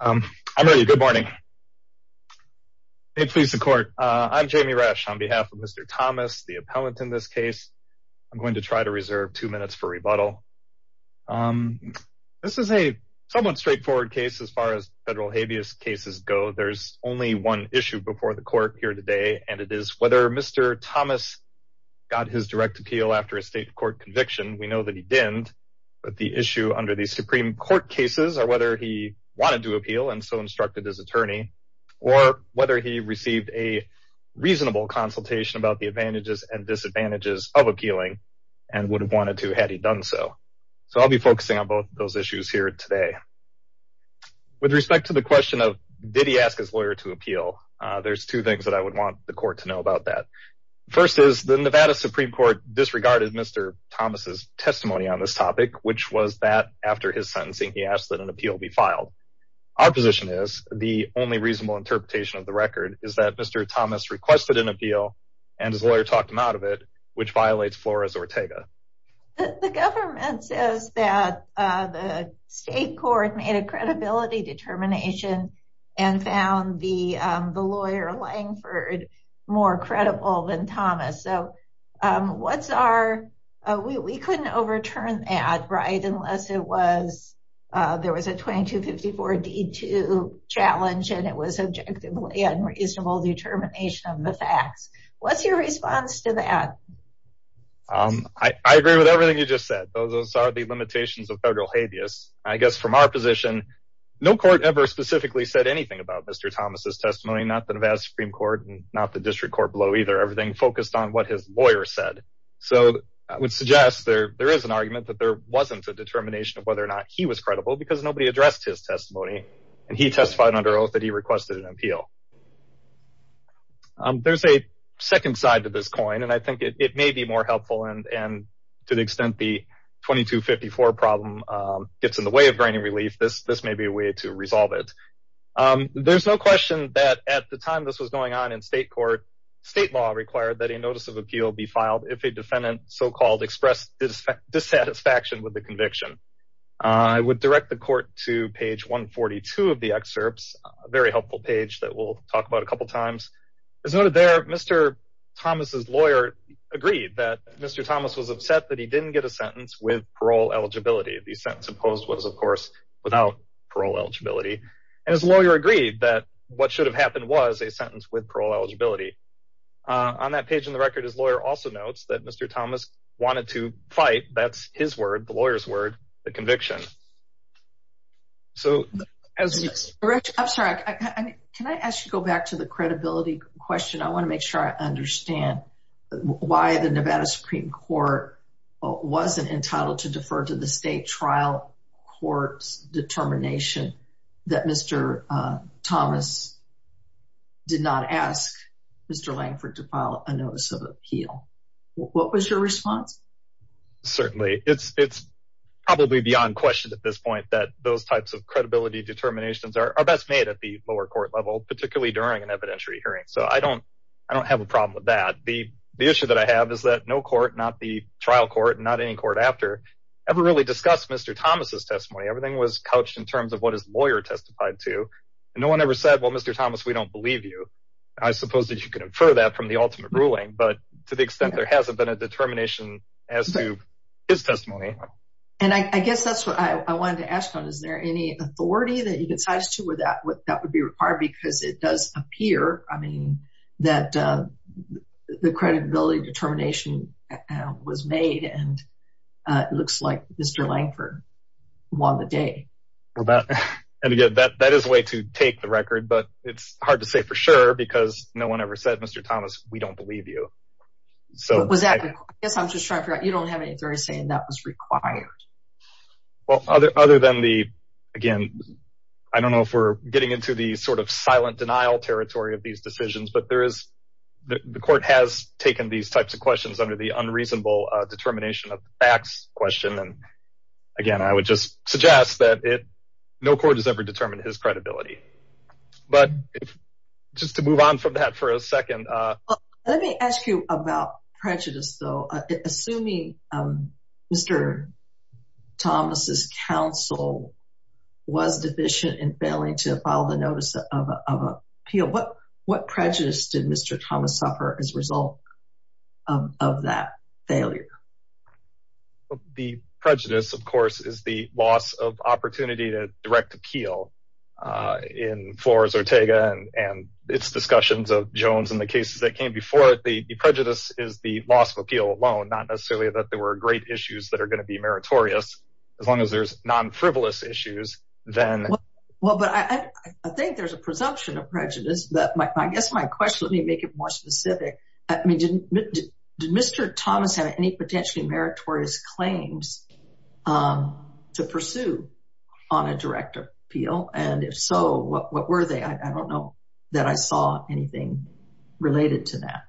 I'm Jamie Rash on behalf of Mr. Thomas, the appellant in this case, I'm going to try to reserve two minutes for rebuttal. This is a somewhat straightforward case as far as federal habeas cases go. There's only one issue before the court here today and it is whether Mr. Thomas got his state court conviction. We know that he didn't, but the issue under the Supreme Court cases are whether he wanted to appeal and so instructed his attorney or whether he received a reasonable consultation about the advantages and disadvantages of appealing and would have wanted to had he done so. So I'll be focusing on both those issues here today. With respect to the question of, did he ask his lawyer to appeal? There's two things that I would want the court to know about that. First is the Nevada Supreme Court disregarded Mr. Thomas' testimony on this topic, which was that after his sentencing, he asked that an appeal be filed. Our position is the only reasonable interpretation of the record is that Mr. Thomas requested an appeal and his lawyer talked him out of it, which violates Flores Ortega. The government says that the state court made a credibility determination and found the So, what's our, we couldn't overturn that, right, unless it was, there was a 2254 D2 challenge and it was objectively unreasonable determination of the facts. What's your response to that? I agree with everything you just said. Those are the limitations of federal habeas. I guess from our position, no court ever specifically said anything about Mr. Thomas' testimony, not the Nevada Supreme Court and not the district court below either. Everything focused on what his lawyer said. So I would suggest there is an argument that there wasn't a determination of whether or not he was credible because nobody addressed his testimony and he testified under oath that he requested an appeal. There's a second side to this coin and I think it may be more helpful and to the extent the 2254 problem gets in the way of granting relief, this may be a way to resolve it. There's no question that at the time this was going on in state court, state law required that a notice of appeal be filed if a defendant so-called expressed dissatisfaction with the conviction. I would direct the court to page 142 of the excerpts, a very helpful page that we'll talk about a couple times. As noted there, Mr. Thomas' lawyer agreed that Mr. Thomas was upset that he didn't get a sentence with parole eligibility. The sentence imposed was, of course, without parole eligibility and his lawyer agreed that what should have happened was a sentence with parole eligibility. On that page in the record, his lawyer also notes that Mr. Thomas wanted to fight, that's his word, the lawyer's word, the conviction. So as... I'm sorry, can I ask you to go back to the credibility question? I want to make sure I understand why the Nevada Supreme Court wasn't entitled to defer to the state trial court's determination that Mr. Thomas did not ask Mr. Langford to file a notice of appeal. What was your response? Certainly. It's probably beyond question at this point that those types of credibility determinations are best made at the lower court level, particularly during an evidentiary hearing. So I don't have a problem with that. The issue that I have is that no court, not the trial court and not any court after, ever really discussed Mr. Thomas' testimony. Everything was couched in terms of what his lawyer testified to. No one ever said, well, Mr. Thomas, we don't believe you. I suppose that you can infer that from the ultimate ruling, but to the extent there hasn't been a determination as to his testimony. And I guess that's what I wanted to ask. Is there any authority that you could cite us to where that would be required? Because it does appear, I mean, that the credibility determination was made and it looks like Mr. Langford won the day. And again, that is a way to take the record, but it's hard to say for sure because no one ever said, Mr. Thomas, we don't believe you. So was that, I guess I'm just trying to figure out, you don't have any authority saying that was required? Well, other than the, again, I don't know if we're getting into the sort of silent denial territory of these decisions, but there is, the court has taken these types of questions under the unreasonable determination of facts question. And again, I would just suggest that it, no court has ever determined his credibility, but just to move on from that for a second. Let me ask you about prejudice though, assuming Mr. Thomas's counsel was deficient in failing to file the notice of appeal. What prejudice did Mr. Thomas suffer as a result of that failure? The prejudice, of course, is the loss of opportunity to direct appeal in Flores Ortega and its discussions of Jones and the cases that came before it. The prejudice is the loss of appeal alone, not necessarily that there were great issues that are going to be meritorious as long as there's non-frivolous issues then. Well, but I think there's a presumption of prejudice that my, I guess my question, let me make it more specific. I mean, did Mr. Thomas have any potentially meritorious claims to pursue on a direct appeal? And if so, what were they? I don't know that I saw anything related to that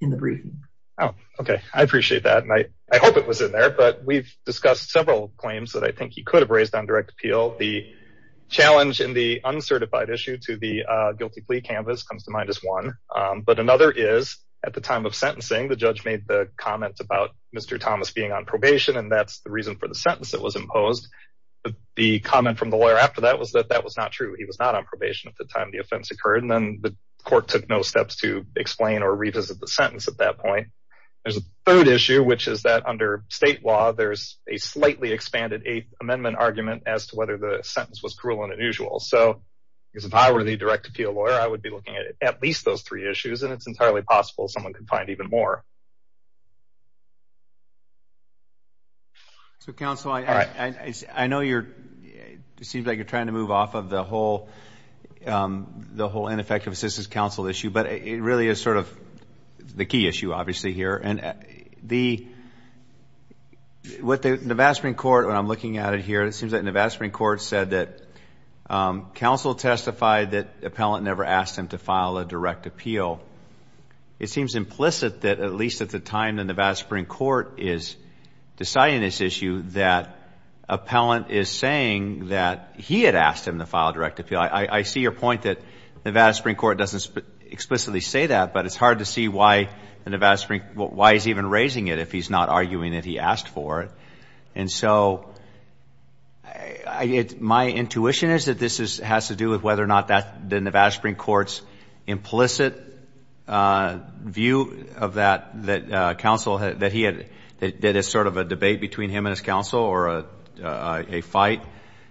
in the briefing. Oh, okay. I appreciate that. And I hope it was in there, but we've discussed several claims that I think he could have raised on direct appeal. The challenge in the uncertified issue to the guilty plea canvas comes to mind as one, but another is at the time of sentencing, the judge made the comment about Mr. Thomas being on probation, and that's the reason for the sentence that was imposed. The comment from the lawyer after that was that that was not true. He was not on probation at the time the offense occurred, and then the court took no steps to explain or revisit the sentence at that point. There's a third issue, which is that under state law, there's a slightly expanded eighth argument as to whether the sentence was cruel and unusual. So if I were the direct appeal lawyer, I would be looking at at least those three issues, and it's entirely possible someone could find even more. So, counsel, I know you're – it seems like you're trying to move off of the whole ineffective assistance counsel issue, but it really is sort of the key issue, obviously, here. And the – what the Nevada Supreme Court, when I'm looking at it here, it seems that Nevada Supreme Court said that counsel testified that appellant never asked him to file a direct appeal. It seems implicit that at least at the time the Nevada Supreme Court is deciding this issue that appellant is saying that he had asked him to file a direct appeal. I see your point that Nevada Supreme Court doesn't explicitly say that, but it's hard to see why the Nevada Supreme – why he's even raising it if he's not arguing that he asked for it. And so, my intuition is that this has to do with whether or not that – the Nevada Supreme Court's implicit view of that, that counsel – that he had – that it's sort of a debate between him and his counsel or a fight,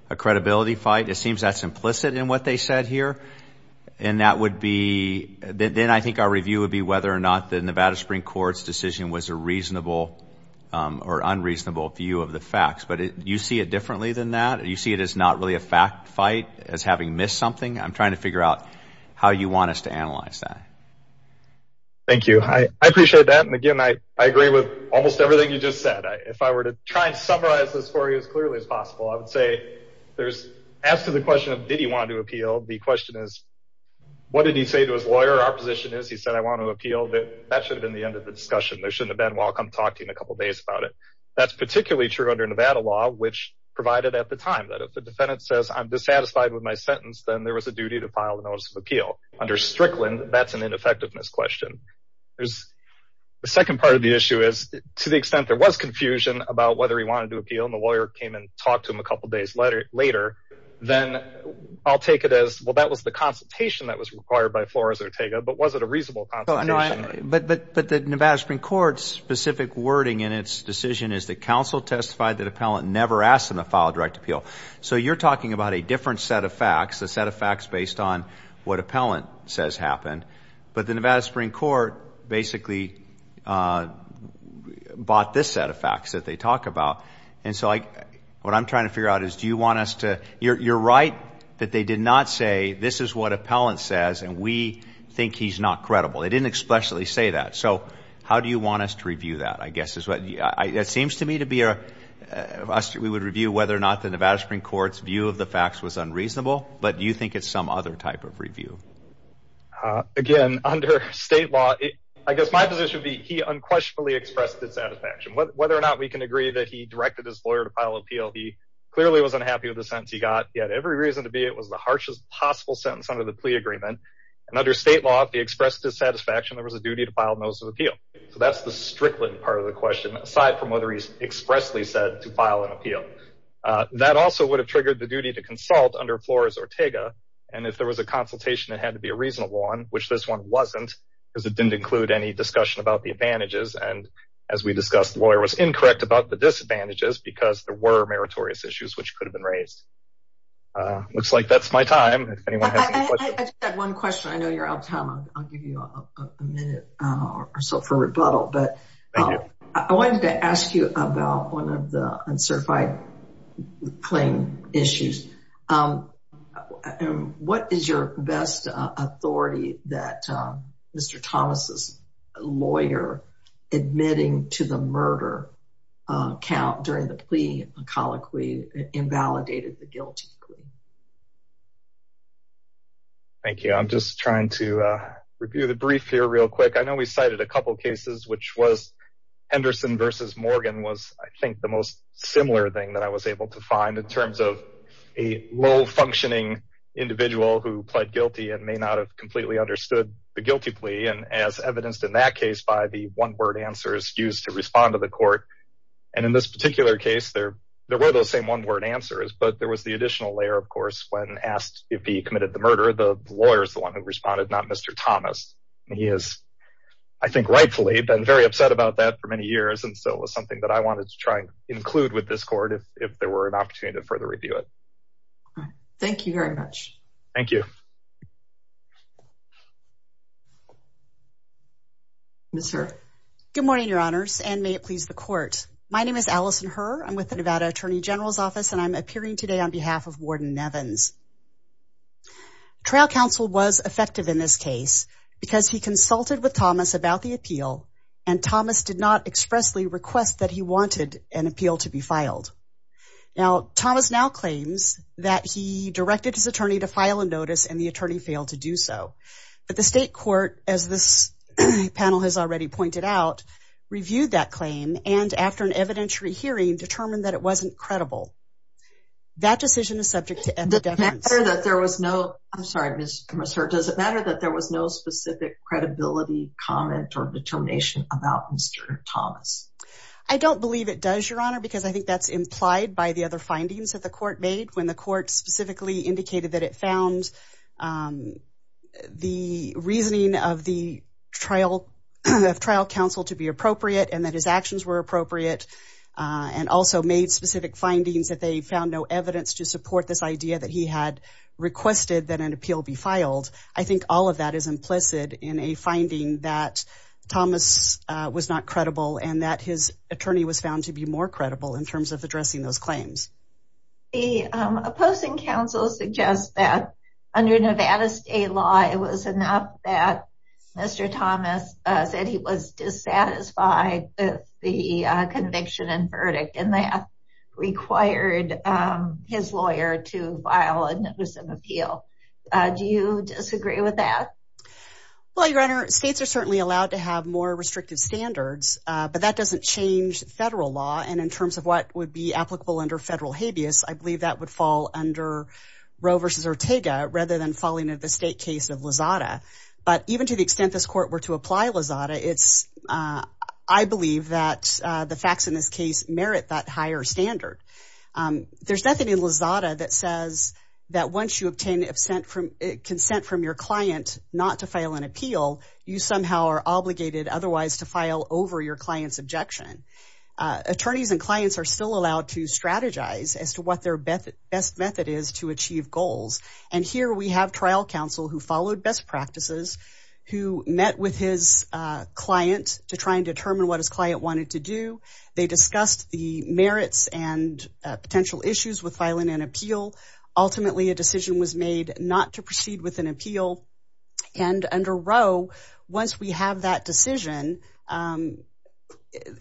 a credibility fight. It seems that's implicit in what they said here, and that would be – then I think our to see whether or not the Nevada Supreme Court's decision was a reasonable or unreasonable view of the facts. But you see it differently than that? You see it as not really a fact fight, as having missed something? I'm trying to figure out how you want us to analyze that. Thank you. I appreciate that. And again, I agree with almost everything you just said. If I were to try and summarize this for you as clearly as possible, I would say there's – as to the question of did he want to appeal, the question is what did he say to his lawyer – whatever our position is, he said, I want to appeal, that should have been the end of the discussion. There shouldn't have been, well, I'll come talk to you in a couple days about it. That's particularly true under Nevada law, which provided at the time that if the defendant says I'm dissatisfied with my sentence, then there was a duty to file a notice of appeal. Under Strickland, that's an ineffectiveness question. The second part of the issue is, to the extent there was confusion about whether he wanted to appeal and the lawyer came and talked to him a couple days later, then I'll take it as, well, that was the consultation that was required by Flores-Ortega, but was it a reasonable consultation? But the Nevada Supreme Court's specific wording in its decision is that counsel testified that appellant never asked him to file a direct appeal. So you're talking about a different set of facts, a set of facts based on what appellant says happened. But the Nevada Supreme Court basically bought this set of facts that they talk about. And so what I'm trying to figure out is do you want us to – you're right that they did not say this is what appellant says and we think he's not credible. They didn't expressly say that. So how do you want us to review that, I guess, is what – it seems to me to be a – we would review whether or not the Nevada Supreme Court's view of the facts was unreasonable, but do you think it's some other type of review? Again, under state law, I guess my position would be he unquestionably expressed his satisfaction. Whether or not we can agree that he directed his lawyer to file appeal, he clearly was unhappy with the sentence he got. He had every reason to be. It was the harshest possible sentence under the plea agreement. And under state law, if he expressed his satisfaction, there was a duty to file notice of appeal. So that's the strickling part of the question, aside from whether he expressly said to file an appeal. That also would have triggered the duty to consult under Flores-Ortega. And if there was a consultation, it had to be a reasonable one, which this one wasn't because it didn't include any discussion about the advantages. And as we discussed, the lawyer was incorrect about the disadvantages because there were meritorious issues which could have been raised. Looks like that's my time. If anyone has any questions. I just have one question. I know you're out of time. I'll give you a minute or so for rebuttal, but I wanted to ask you about one of the uncertified claim issues. What is your best authority that Mr. Thomas's lawyer admitting to the murder count during the plea colloquy invalidated the guilty plea? Thank you. I'm just trying to review the brief here real quick. I know we cited a couple of cases, which was Henderson versus Morgan was, I think the most similar thing that I was able to find in terms of a low functioning individual who pled guilty and may not have completely understood the guilty plea and as evidenced in that case by the one word answers used to respond to the court. And in this particular case, there were those same one word answers, but there was the additional layer of course, when asked if he committed the murder, the lawyers, the one who responded, not Mr. Thomas. And he has, I think rightfully been very upset about that for many years. And so it was something that I wanted to try and include with this court if there were an opportunity to further review it. Thank you very much. Thank you. Good morning, your honors. And may it please the court. My name is Allison Herr. I'm with the Nevada Attorney General's Office and I'm appearing today on behalf of Warden Nevins. Trial counsel was effective in this case because he consulted with Thomas about the appeal and Thomas did not expressly request that he wanted an appeal to be filed. Now Thomas now claims that he directed his attorney to file a notice and the attorney failed to do so. But the state court, as this panel has already pointed out, reviewed that claim and after an evidentiary hearing determined that it wasn't credible. That decision is subject to evidence. There was no, I'm sorry, Ms. Herr, does it matter that there was no specific credibility comment or determination about Mr. Thomas? I don't believe it does, your honor, because I think that's implied by the other findings that the court made when the court specifically indicated that it found the reasoning of the trial counsel to be appropriate and that his actions were appropriate and also made specific findings that they found no evidence to support this idea that he had requested that an appeal be filed. I think all of that is implicit in a finding that Thomas was not credible and that his The opposing counsel suggests that under Nevada state law it was enough that Mr. Thomas said he was dissatisfied with the conviction and verdict and that required his lawyer to file a notice of appeal. Do you disagree with that? Well, your honor, states are certainly allowed to have more restrictive standards, but that doesn't change federal law and in terms of what would be applicable under federal habeas, I believe that would fall under Roe versus Ortega rather than falling under the state case of Lozada. But even to the extent this court were to apply Lozada, it's, I believe that the facts in this case merit that higher standard. There's nothing in Lozada that says that once you obtain consent from your client not to Attorneys and clients are still allowed to strategize as to what their best method is to achieve goals. And here we have trial counsel who followed best practices, who met with his client to try and determine what his client wanted to do. They discussed the merits and potential issues with filing an appeal. And under Roe, once we have that decision,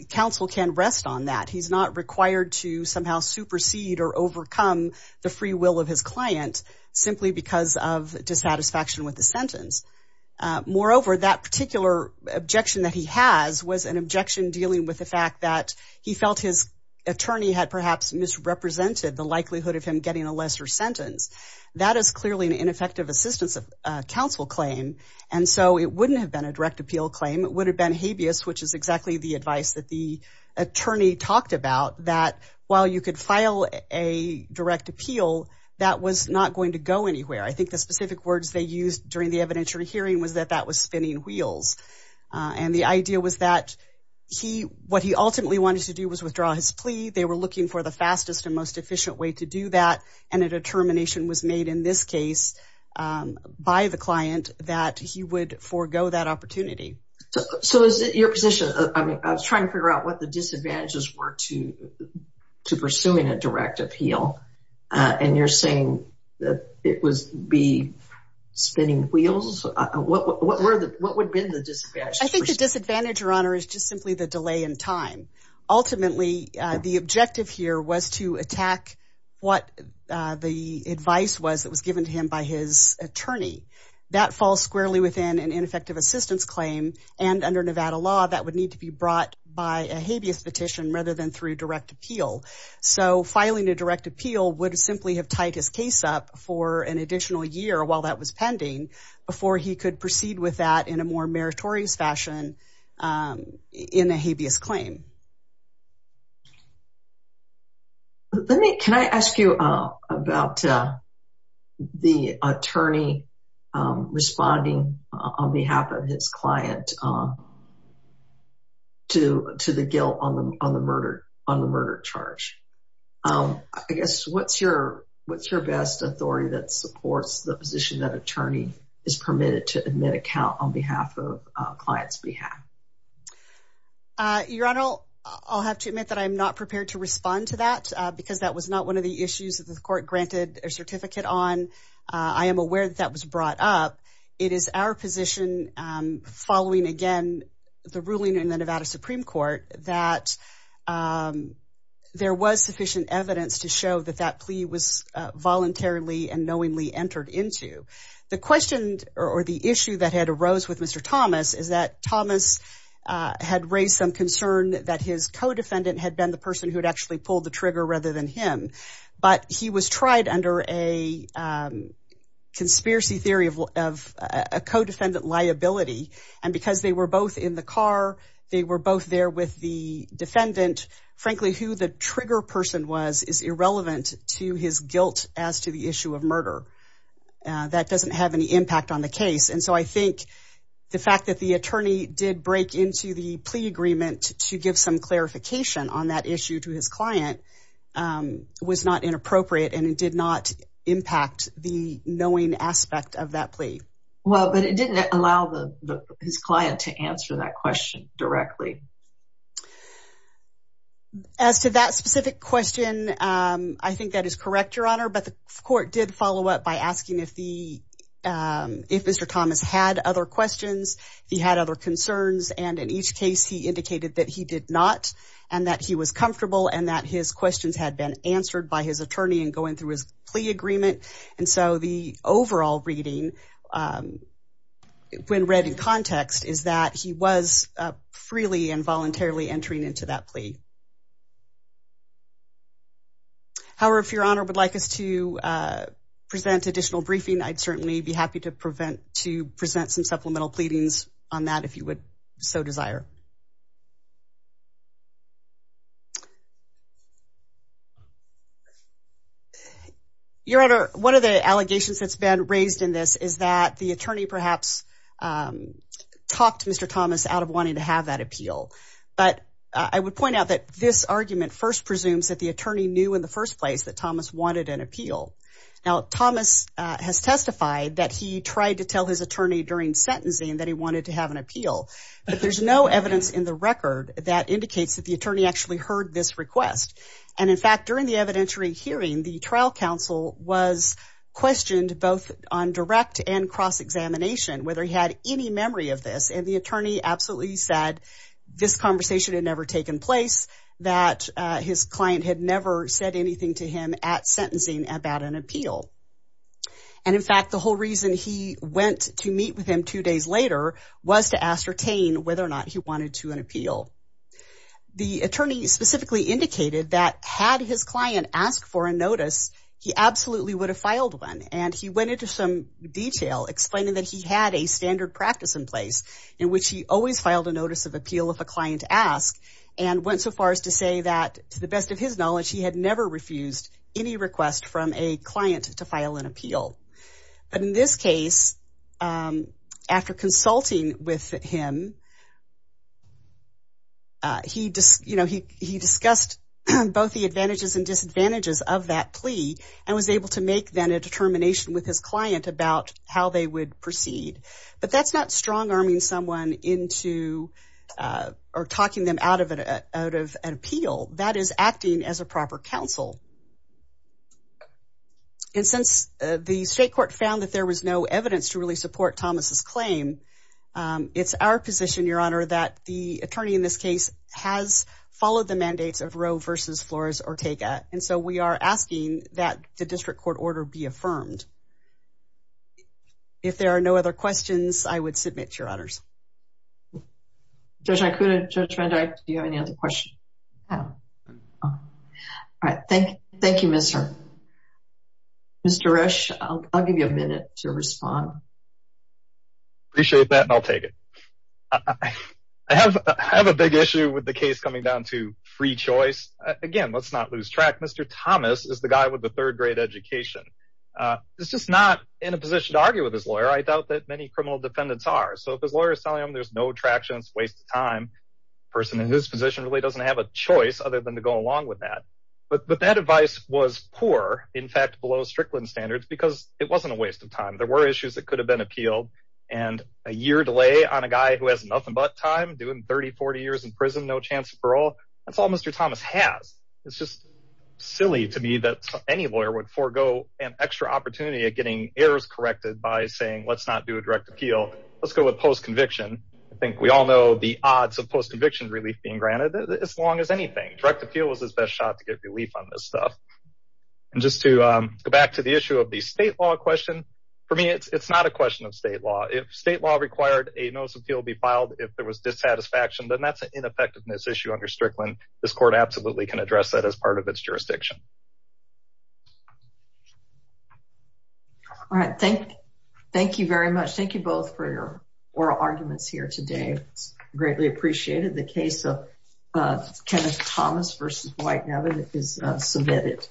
counsel can rest on that. He's not required to somehow supersede or overcome the free will of his client simply because of dissatisfaction with the sentence. Moreover, that particular objection that he has was an objection dealing with the fact that he felt his attorney had perhaps misrepresented the likelihood of him getting a lesser sentence. That is clearly an ineffective assistance of counsel claim. And so it wouldn't have been a direct appeal claim, it would have been habeas, which is exactly the advice that the attorney talked about, that while you could file a direct appeal, that was not going to go anywhere. I think the specific words they used during the evidentiary hearing was that that was spinning wheels. And the idea was that he, what he ultimately wanted to do was withdraw his plea. They were looking for the fastest and most efficient way to do that. And a determination was made in this case by the client that he would forego that opportunity. So is it your position, I mean, I was trying to figure out what the disadvantages were to pursuing a direct appeal. And you're saying that it would be spinning wheels? What would have been the disadvantage? I think the disadvantage, Your Honor, is just simply the delay in time. Ultimately, the objective here was to attack what the advice was that was given to him by his attorney. That falls squarely within an ineffective assistance claim. And under Nevada law, that would need to be brought by a habeas petition rather than through direct appeal. So filing a direct appeal would simply have tied his case up for an additional year while that was pending before he could proceed with that in a more meritorious fashion in a habeas claim. Let me, can I ask you about the attorney responding on behalf of his client to the guilt on the murder charge? I guess, what's your best authority that supports the position that attorney is permitted to admit a count on behalf of a client's behalf? Your Honor, I'll have to admit that I'm not prepared to respond to that because that was not one of the issues that the court granted a certificate on. I am aware that that was brought up. It is our position following, again, the ruling in the Nevada Supreme Court that there was sufficient evidence to show that that plea was voluntarily and knowingly entered into. The question or the issue that had arose with Mr. Thomas is that Thomas had raised some concern that his co-defendant had been the person who had actually pulled the trigger rather than him. But he was tried under a conspiracy theory of a co-defendant liability. And because they were both in the car, they were both there with the defendant, frankly who the trigger person was is irrelevant to his guilt as to the issue of murder. That doesn't have any impact on the case. And so I think the fact that the attorney did break into the plea agreement to give some clarification on that issue to his client was not inappropriate and it did not impact the knowing aspect of that plea. Well, but it didn't allow his client to answer that question directly. As to that specific question, I think that is correct, Your Honor, but the court did follow up by asking if Mr. Thomas had other questions, if he had other concerns. And in each case, he indicated that he did not and that he was comfortable and that his questions had been answered by his attorney in going through his plea agreement. And so the overall reading when read in context is that he was freely and voluntarily entering into that plea. However, if Your Honor would like us to present additional briefing, I'd certainly be happy to present some supplemental pleadings on that if you would so desire. Your Honor, one of the allegations that's been raised in this is that the attorney perhaps talked Mr. Thomas out of wanting to have that appeal. But I would point out that this argument first presumes that the attorney knew in the first place that Thomas wanted an appeal. Now, Thomas has testified that he tried to tell his attorney during sentencing that he heard this request. And in fact, during the evidentiary hearing, the trial counsel was questioned both on direct and cross-examination whether he had any memory of this. And the attorney absolutely said this conversation had never taken place, that his client had never said anything to him at sentencing about an appeal. And in fact, the whole reason he went to meet with him two days later was to ascertain whether or not he wanted to an appeal. The attorney specifically indicated that had his client asked for a notice, he absolutely would have filed one. And he went into some detail explaining that he had a standard practice in place in which he always filed a notice of appeal if a client asked and went so far as to say that, to the best of his knowledge, he had never refused any request from a client to file an appeal. But in this case, after consulting with him, he discussed both the advantages and disadvantages of that plea and was able to make then a determination with his client about how they would proceed. But that's not strong-arming someone into or talking them out of an appeal. That is acting as a proper counsel. And since the state court found that there was no evidence to really support Thomas's claim, it's our position, Your Honor, that the attorney in this case has followed the mandates of Roe v. Flores-Ortega. And so we are asking that the district court order be affirmed. If there are no other questions, I would submit, Your Honors. Judge Iacuna, Judge Render, do you have any other questions? I don't. All right. Thank you. Thank you, Mr. Rusch. I'll give you a minute to respond. Appreciate that, and I'll take it. I have a big issue with the case coming down to free choice. Again, let's not lose track. Mr. Thomas is the guy with the third-grade education. He's just not in a position to argue with his lawyer. I doubt that many criminal defendants are. So if his lawyer is telling him there's no traction, it's a waste of time, the person in his position really doesn't have a choice other than to go along with that. But that advice was poor, in fact, below Strickland standards, because it wasn't a waste of time. There were issues that could have been appealed. And a year delay on a guy who has nothing but time, doing 30, 40 years in prison, no chance of parole, that's all Mr. Thomas has. It's just silly to me that any lawyer would forego an extra opportunity at getting errors corrected by saying, let's not do a direct appeal. Let's go with post-conviction. I think we all know the odds of post-conviction relief being granted, as long as anything. Direct appeal was his best shot to get relief on this stuff. And just to go back to the issue of the state law question, for me, it's not a question of state law. If state law required a notice of appeal to be filed if there was dissatisfaction, then that's an ineffectiveness issue under Strickland. This court absolutely can address that as part of its jurisdiction. All right, thank you very much. Thank you both for your oral arguments here today. Greatly appreciated. The case of Kenneth Thomas v. Whitehaven is submitted.